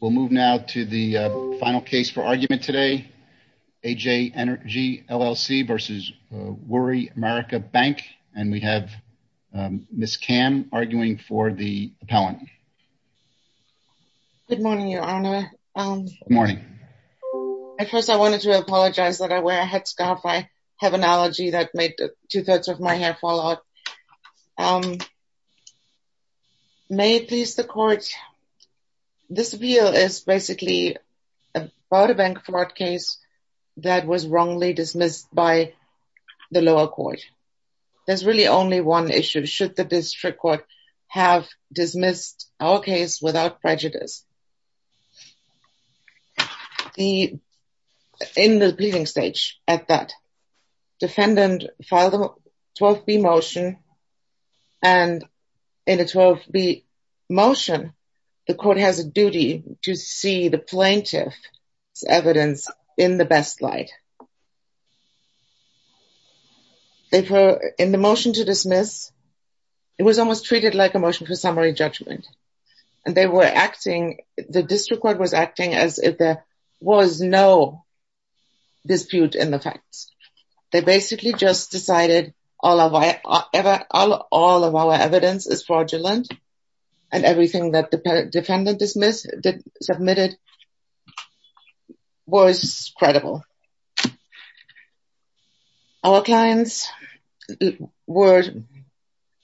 We'll move now to the final case for argument today, A.J. Energy LLC v. Woori America Bank and we have Ms. Kam arguing for the appellant. Good morning, Your Honor. Good morning. First, I wanted to apologize that I wear a headscarf. I have an allergy that made two-thirds of my hair fall out. May it please the court, this appeal is basically about a bank fraud case that was wrongly dismissed by the lower court. There's really only one issue. Should the district court have dismissed our case without prejudice? In the pleading stage at that, defendant filed a 12B motion and in a 12B motion, the court has a duty to see the plaintiff's evidence in the best light. In the motion to dismiss, it was almost treated like a motion for summary judgment and they were acting, the district court was acting as if there was no dispute in the facts. They basically just decided all of our evidence is fraudulent and everything that the defendant submitted was credible. Our clients were,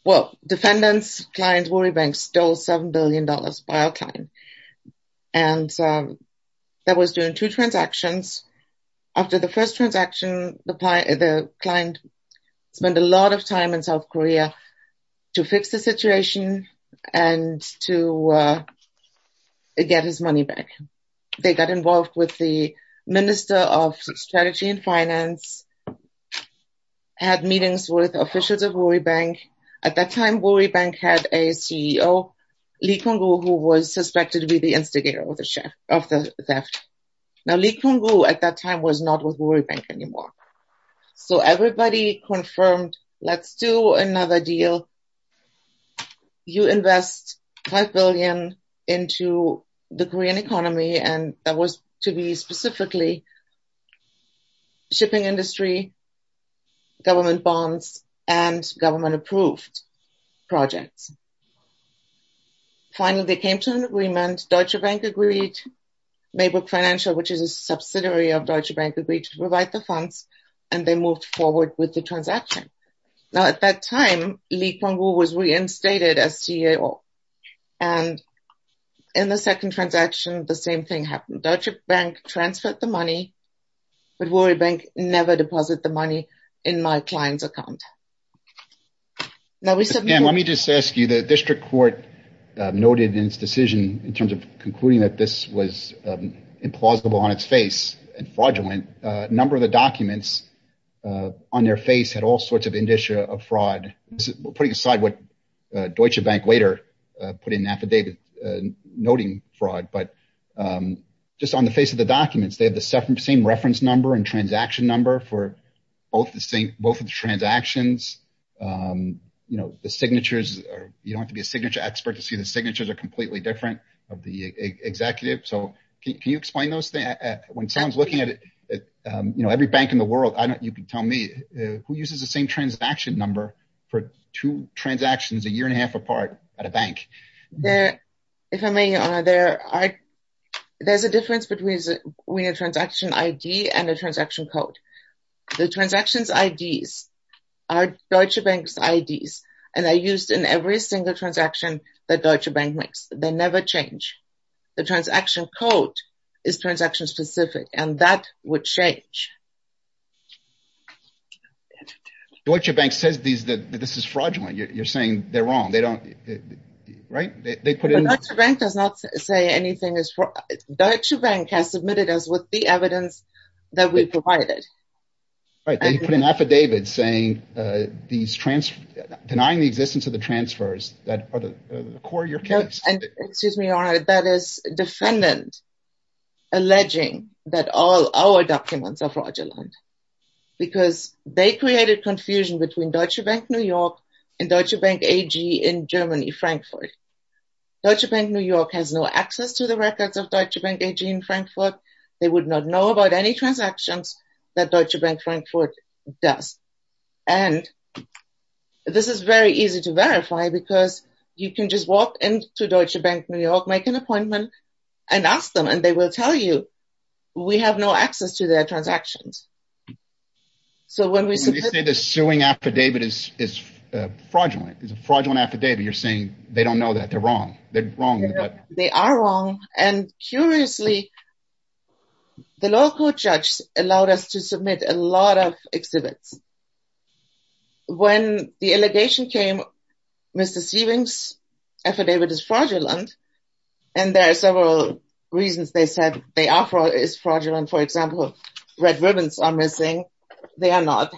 well, defendant's client, Woori Bank, stole $7 billion by our client and that was during two transactions. After the first transaction, the client spent a lot of time in South Korea to fix the situation and to get his money back. They got involved with the Minister of Strategy and Finance, had meetings with officials of Woori Bank. At that time, Woori Bank had a CEO, Lee Kun-gu, who was suspected to be the instigator of the theft. Now, Lee Kun-gu at that time was not with Woori Bank anymore. So everybody confirmed, let's do another deal. You invest $5 billion into the Korean economy and that was to be specifically shipping industry, government bonds, and government approved projects. Finally, they came to an agreement, Deutsche Bank agreed, Maybrook Financial, which is a subsidiary of Deutsche Bank, agreed to provide the funds and they moved forward with the transaction. Now, at that time, Lee Kun-gu was reinstated as CEO and in the second transaction, the same thing happened. Deutsche Bank transferred the money, but Woori Bank never deposited the money in my client's account. Let me just ask you, the district court noted in its decision in terms of concluding that this was implausible on its face and fraudulent. A number of the documents on their face had all sorts of indicia of fraud. Putting aside what Deutsche Bank later put in affidavit noting fraud, but just on the face of the documents, they have the same reference number and transaction number for both of the transactions. You don't have to be a signature expert to see the signatures are completely different of the executive. So can you explain those things? When Sam's looking at every bank in the world, you can tell me, who uses the same transaction number for two transactions a year and a half apart at a bank? If I may, your honor, there's a difference between a transaction ID and a transaction code. The transactions IDs are Deutsche Bank's IDs and are used in every single transaction that Deutsche Bank makes. They never change. The transaction code is transaction specific and that would change. Deutsche Bank says that this is fraudulent. You're saying they're wrong, right? Deutsche Bank does not say anything is fraud. Deutsche Bank has submitted us with the evidence that we provided. They put an affidavit denying the existence of the transfers that are the core of your case. Excuse me, your honor, that is a defendant alleging that all our documents are fraudulent. Because they created confusion between Deutsche Bank New York and Deutsche Bank AG in Germany, Frankfurt. Deutsche Bank New York has no access to the records of Deutsche Bank AG in Frankfurt. They would not know about any transactions that Deutsche Bank Frankfurt does. And this is very easy to verify because you can just walk into Deutsche Bank New York, make an appointment and ask them. And they will tell you we have no access to their transactions. So when we say the suing affidavit is fraudulent, it's a fraudulent affidavit, you're saying they don't know that they're wrong. They are wrong. And curiously, the local judge allowed us to submit a lot of exhibits. When the allegation came, Mr. Sieving's affidavit is fraudulent. And there are several reasons they said they are fraud is fraudulent. For example, red ribbons are missing. They are not.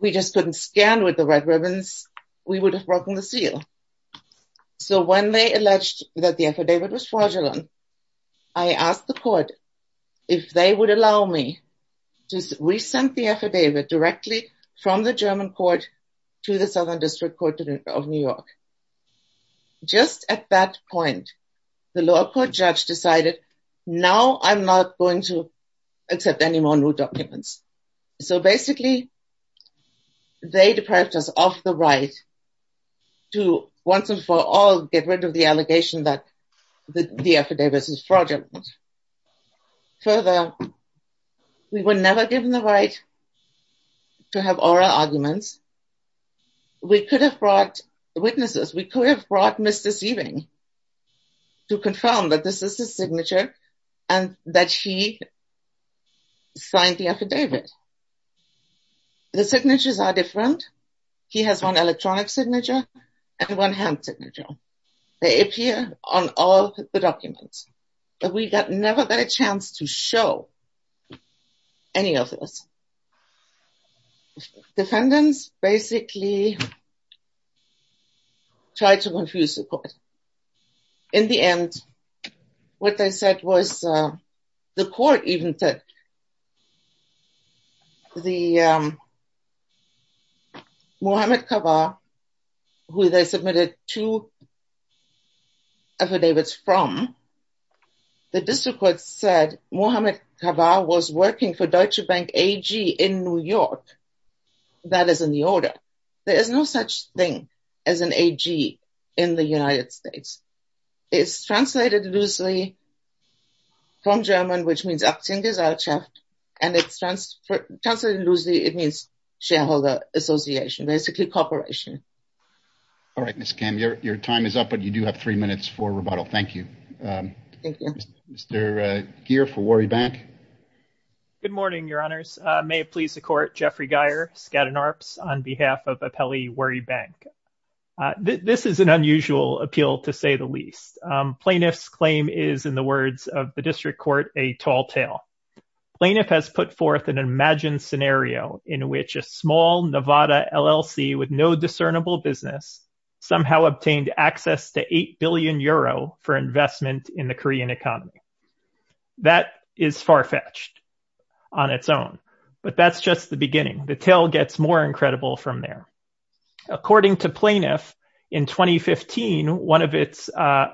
We just couldn't stand with the red ribbons. We would have broken the seal. So when they alleged that the affidavit was fraudulent, I asked the court if they would allow me to resend the affidavit directly from the German court to the Southern District Court of New York. Just at that point, the local judge decided now I'm not going to accept any more new documents. So basically, they deprived us of the right to once and for all get rid of the allegation that the affidavit is fraudulent. Further, we were never given the right to have oral arguments. We could have brought witnesses. We could have brought Mr. Sieving to confirm that this is his signature and that he signed the affidavit. The signatures are different. He has one electronic signature and one hand signature. They appear on all the documents, but we never got a chance to show any of this. Defendants basically tried to confuse the court. In the end, what they said was, the court even said, Mohamed Kava, who they submitted two affidavits from, the district court said Mohamed Kava was working for Deutsche Bank AG in New York. That is in the order. There is no such thing as an AG in the United States. It's translated loosely from German, which means Aktiengesellschaft, and it's translated loosely, it means shareholder association, basically corporation. All right, Ms. Kam, your time is up, but you do have three minutes for rebuttal. Thank you. Thank you. Mr. Gere for Worry Bank. Good morning, Your Honors. May it please the court, Jeffrey Geyer, Skadden Arps, on behalf of Apelli Worry Bank. This is an unusual appeal, to say the least. Plaintiff's claim is, in the words of the district court, a tall tale. Plaintiff has put forth an imagined scenario in which a small Nevada LLC with no discernible business somehow obtained access to 8 billion euro for investment in the Korean economy. That is far-fetched on its own, but that's just the beginning. The tale gets more incredible from there. According to Plaintiff, in 2015, one of its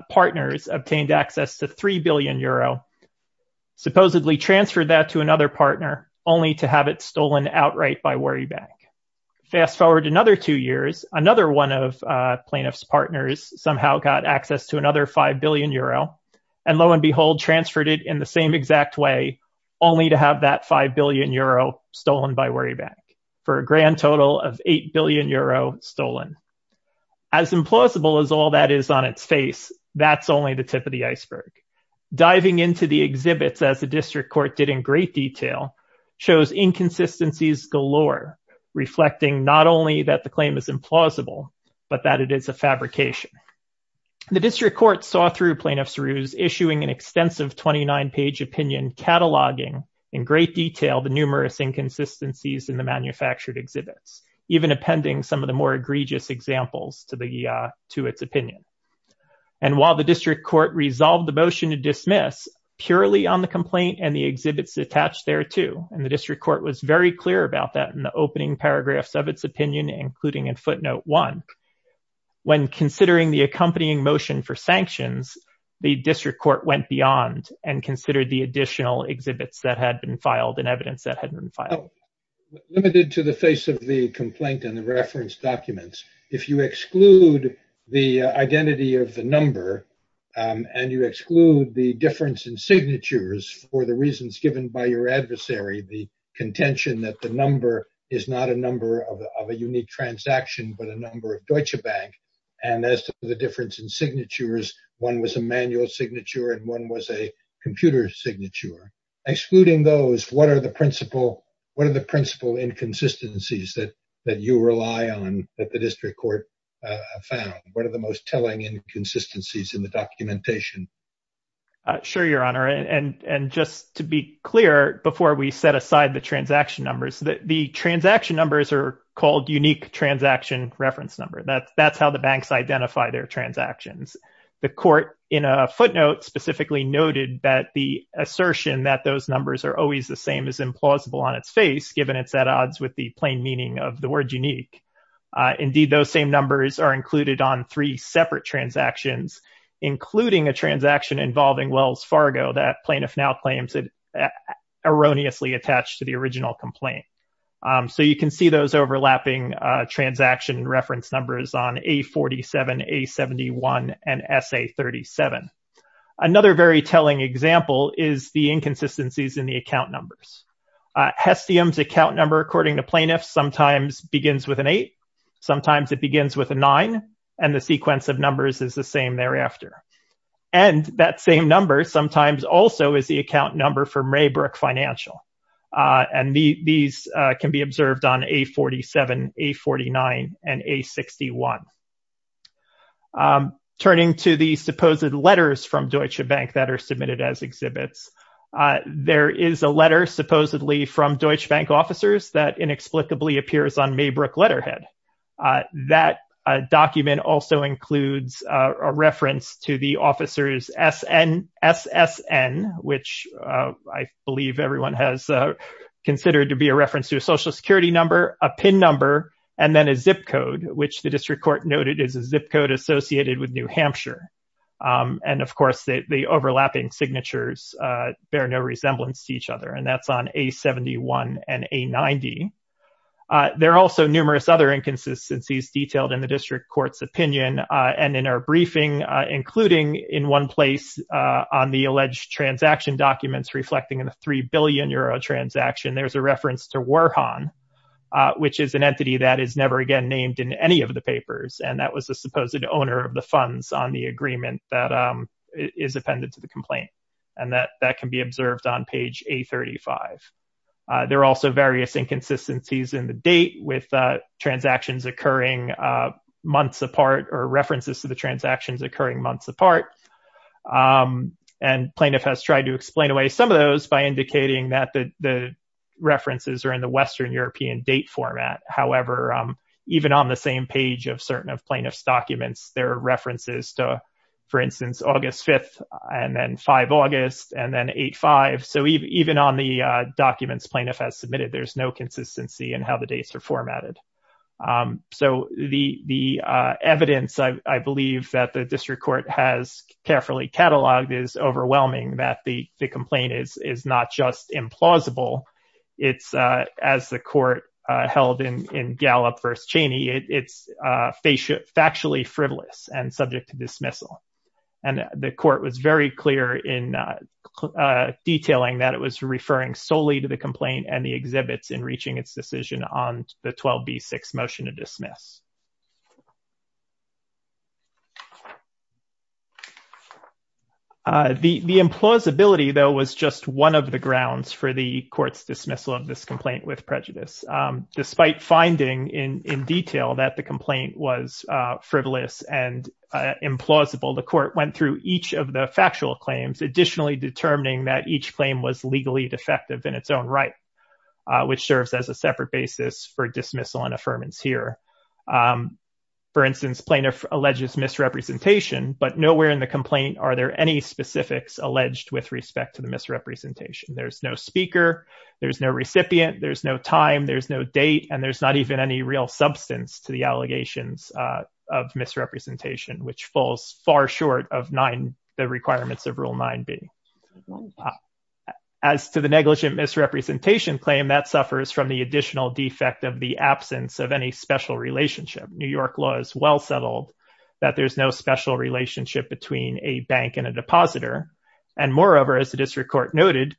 partners obtained access to 3 billion euro, supposedly transferred that to another partner, only to have it stolen outright by Worry Bank. Fast forward another two years, another one of Plaintiff's partners somehow got access to another 5 billion euro, and lo and behold, transferred it in the same exact way, only to have that 5 billion euro stolen by Worry Bank. For a grand total of 8 billion euro stolen. As implausible as all that is on its face, that's only the tip of the iceberg. Diving into the exhibits, as the district court did in great detail, shows inconsistencies galore, reflecting not only that the claim is implausible, but that it is a fabrication. The district court saw through Plaintiff's ruse, issuing an extensive 29-page opinion cataloging in great detail the numerous inconsistencies in the manufactured exhibits, even appending some of the more egregious examples to its opinion. And while the district court resolved the motion to dismiss, purely on the complaint and the exhibits attached thereto, and the district court was very clear about that in the opening paragraphs of its opinion, including in footnote one, when considering the accompanying motion for sanctions, the district court went beyond and considered the additional exhibits that had been filed and evidence that had been filed. Now, limited to the face of the complaint and the reference documents, if you exclude the identity of the number, and you exclude the difference in signatures for the reasons given by your adversary, the contention that the number is not a number of a unique transaction, but a number of Deutsche Bank, and as to the difference in signatures, one was a manual signature and one was a computer signature, excluding those, what are the principal inconsistencies that you rely on that the district court found? What are the most telling inconsistencies in the documentation? Sure, Your Honor. And just to be clear, before we set aside the transaction numbers, the transaction numbers are called unique transaction reference number. That's how the banks identify their transactions. The court, in a footnote, specifically noted that the assertion that those numbers are always the same is implausible on its face, given it's at odds with the plain meaning of the word unique. Indeed, those same numbers are included on three separate transactions, including a transaction involving Wells Fargo that plaintiff now claims it erroneously attached to the original complaint. So you can see those overlapping transaction reference numbers on A47, A71, and SA37. Another very telling example is the inconsistencies in the account numbers. Hestium's account number, according to plaintiffs, sometimes begins with an eight, sometimes it begins with a nine, and the sequence of numbers is the same thereafter. And that same number sometimes also is the account number for Maybrook Financial. And these can be observed on A47, A49, and A61. Turning to the supposed letters from Deutsche Bank that are submitted as exhibits, there is a letter supposedly from Deutsche Bank officers that inexplicably appears on Maybrook letterhead. That document also includes a reference to the officers' SSN, which I believe everyone has considered to be a reference to a Social Security number, a PIN number, and then a zip code, which the district court noted is a zip code associated with New Hampshire. And, of course, the overlapping signatures bear no resemblance to each other, and that's on A71 and A90. There are also numerous other inconsistencies detailed in the district court's opinion, and in our briefing, including in one place on the alleged transaction documents reflecting a 3 billion euro transaction, there's a reference to Warhan, which is an entity that is never again named in any of the papers, and that was the supposed owner of the funds on the agreement that is appended to the complaint. And that can be observed on page A35. There are also various inconsistencies in the date with transactions occurring months apart or references to the transactions occurring months apart. And plaintiff has tried to explain away some of those by indicating that the references are in the Western European date format. However, even on the same page of certain of plaintiff's documents, there are references to, for instance, August 5th and then 5 August and then 8-5. So even on the documents plaintiff has submitted, there's no consistency in how the dates are formatted. So the evidence, I believe, that the district court has carefully cataloged is overwhelming that the complaint is not just implausible, it's, as the court held in Gallup v. Cheney, it's factually frivolous and subject to dismissal. And the court was very clear in detailing that it was referring solely to the complaint and the exhibits in reaching its decision on the 12B6 motion to dismiss. The implausibility, though, was just one of the grounds for the court's dismissal of this complaint with prejudice. Despite finding in detail that the complaint was frivolous and implausible, the court went through each of the factual claims, additionally determining that each claim was legally defective in its own right, which serves as a separate basis for dismissal and affirmance here. For instance, plaintiff alleges misrepresentation, but nowhere in the complaint are there any specifics alleged with respect to the misrepresentation. There's no speaker, there's no recipient, there's no time, there's no date, and there's not even any real substance to the allegations of misrepresentation, which falls far short of the requirements of Rule 9b. As to the negligent misrepresentation claim, that suffers from the additional defect of the absence of any special relationship. New York law is well settled that there's no special relationship between a bank and a depositor. And moreover, as the district court noted,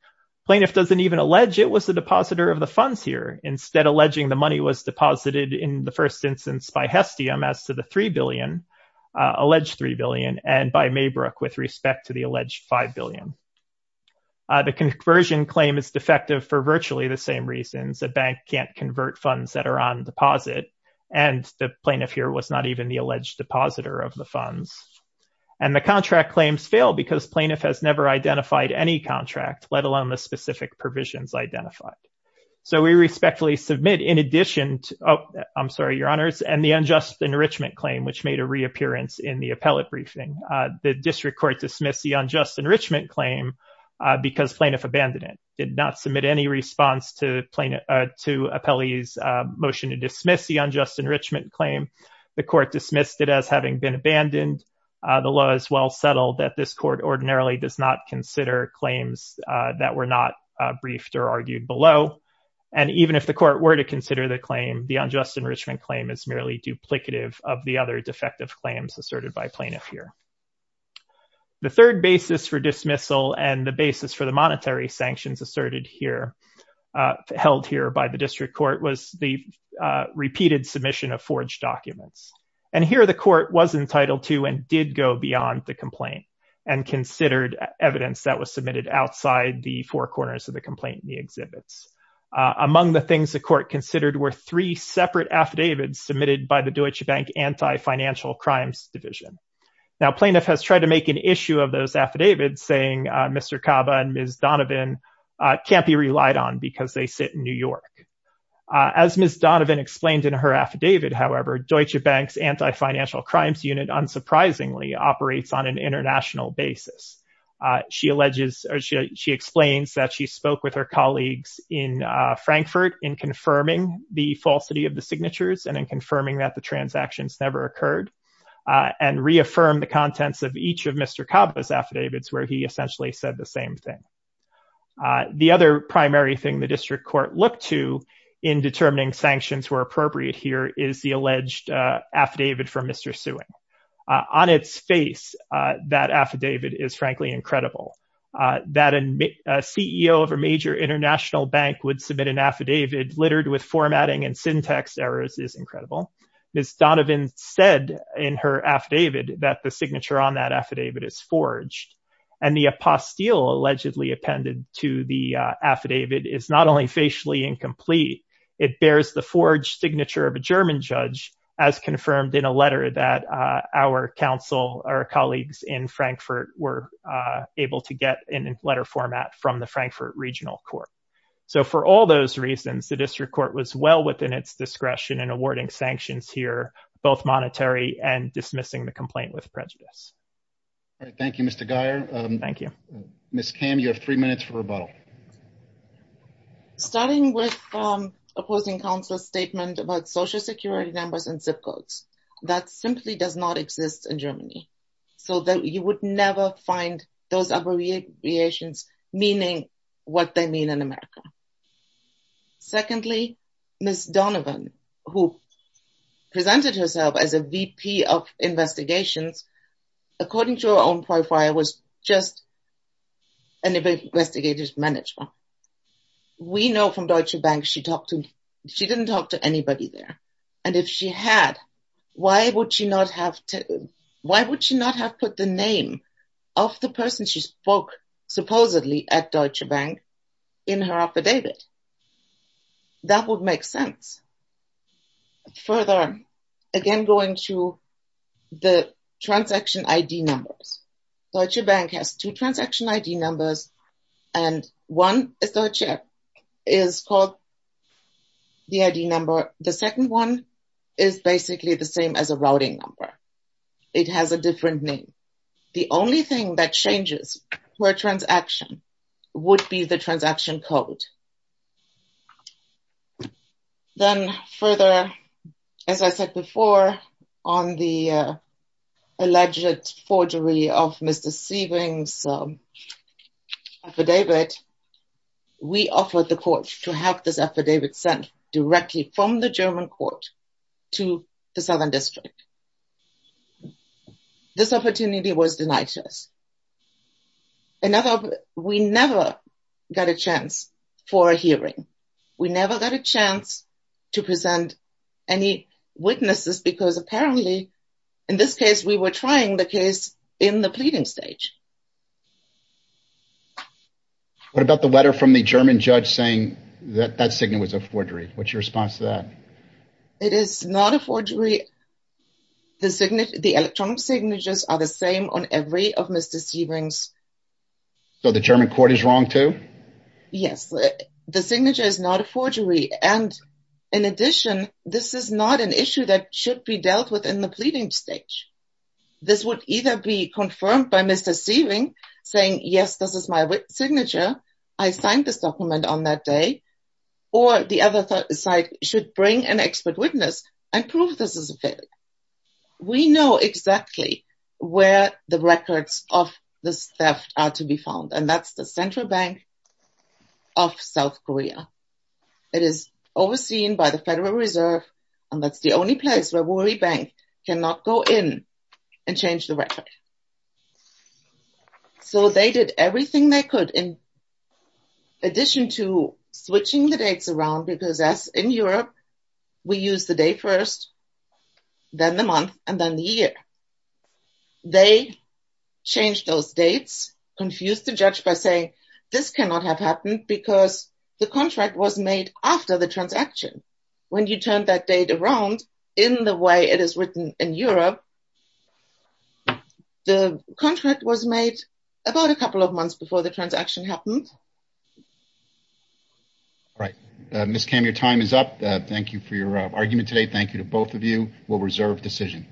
plaintiff doesn't even allege it was the depositor of the funds here, instead alleging the money was deposited in the first instance by Hestium as to the 3B, alleged 3B, and by Maybrook with respect to the alleged 5B. The conversion claim is defective for virtually the same reasons. A bank can't convert funds that are on deposit, and the plaintiff here was not even the alleged depositor of the funds. And the contract claims fail because plaintiff has never identified any contract, let alone the specific provisions identified. So we respectfully submit, in addition to, oh, I'm sorry, your honors, and the unjust enrichment claim, which made a reappearance in the appellate briefing. The district court dismissed the unjust enrichment claim because plaintiff abandoned it, did not submit any response to appellee's motion to dismiss the unjust enrichment claim. The court dismissed it as having been abandoned. The law is well settled that this court ordinarily does not consider claims that were not briefed or argued below. And even if the court were to consider the claim, the unjust enrichment claim is merely duplicative of the other defective claims asserted by plaintiff here. The third basis for dismissal and the basis for the monetary sanctions asserted here, held here by the district court, was the repeated submission of forged documents. And here the court was entitled to and did go beyond the complaint and considered evidence that was submitted outside the four corners of the complaint in the exhibits. Among the things the court considered were three separate affidavits submitted by the Deutsche Bank Anti-Financial Crimes Division. Now plaintiff has tried to make an issue of those affidavits saying Mr. Kaba and Ms. Donovan can't be relied on because they sit in New York. As Ms. Donovan explained in her affidavit, however, Deutsche Bank's Anti-Financial Crimes Unit unsurprisingly operates on an international basis. She alleges or she explains that she spoke with her colleagues in Frankfurt in confirming the falsity of the signatures and in confirming that the transactions never occurred and reaffirmed the contents of each of Mr. Kaba's affidavits where he essentially said the same thing. The other primary thing the district court looked to in determining sanctions were appropriate here is the alleged affidavit from Mr. Suen. On its face, that affidavit is frankly incredible. That a CEO of a major international bank would submit an affidavit littered with formatting and syntax errors is incredible. Ms. Donovan said in her affidavit that the signature on that affidavit is forged. And the apostille allegedly appended to the affidavit is not only facially incomplete. It bears the forged signature of a German judge as confirmed in a letter that our counsel, our colleagues in Frankfurt were able to get in letter format from the Frankfurt Regional Court. So for all those reasons, the district court was well within its discretion in awarding sanctions here, both monetary and dismissing the complaint with prejudice. Thank you, Mr. Geyer. Ms. Kam, you have three minutes for rebuttal. Starting with opposing counsel's statement about social security numbers and zip codes. That simply does not exist in Germany. So you would never find those abbreviations meaning what they mean in America. Secondly, Ms. Donovan, who presented herself as a VP of investigations, according to her own profile, was just an investigative manager. We know from Deutsche Bank she didn't talk to anybody there. And if she had, why would she not have put the name of the person she spoke supposedly at Deutsche Bank in her affidavit? That would make sense. Further, again, going to the transaction ID numbers. Deutsche Bank has two transaction ID numbers, and one is called the ID number. The second one is basically the same as a routing number. It has a different name. The only thing that changes per transaction would be the transaction code. Then further, as I said before, on the alleged forgery of Mr. Sieving's affidavit, we offered the court to have this affidavit sent directly from the German court to the Southern District. This opportunity was denied to us. We never got a chance for a hearing. We never got a chance to present any witnesses because apparently, in this case, we were trying the case in the pleading stage. What about the letter from the German judge saying that that signature was a forgery? What's your response to that? It is not a forgery. The electronic signatures are the same on every of Mr. Sieving's. So the German court is wrong too? Yes. The signature is not a forgery. In addition, this is not an issue that should be dealt with in the pleading stage. This would either be confirmed by Mr. Sieving saying, yes, this is my signature, I signed this document on that day, or the other side should bring an expert witness and prove this is a failure. We know exactly where the records of this theft are to be found, and that's the Central Bank of South Korea. It is overseen by the Federal Reserve, and that's the only place where Worry Bank cannot go in and change the record. So they did everything they could in addition to switching the dates around, because as in Europe, we use the day first, then the month, and then the year. They changed those dates, confused the judge by saying, this cannot have happened because the contract was made after the transaction. When you turn that date around, in the way it is written in Europe, the contract was made about a couple of months before the transaction happened. Right. Ms. Kam, your time is up. Thank you for your argument today. Thank you to both of you. We'll reserve decision.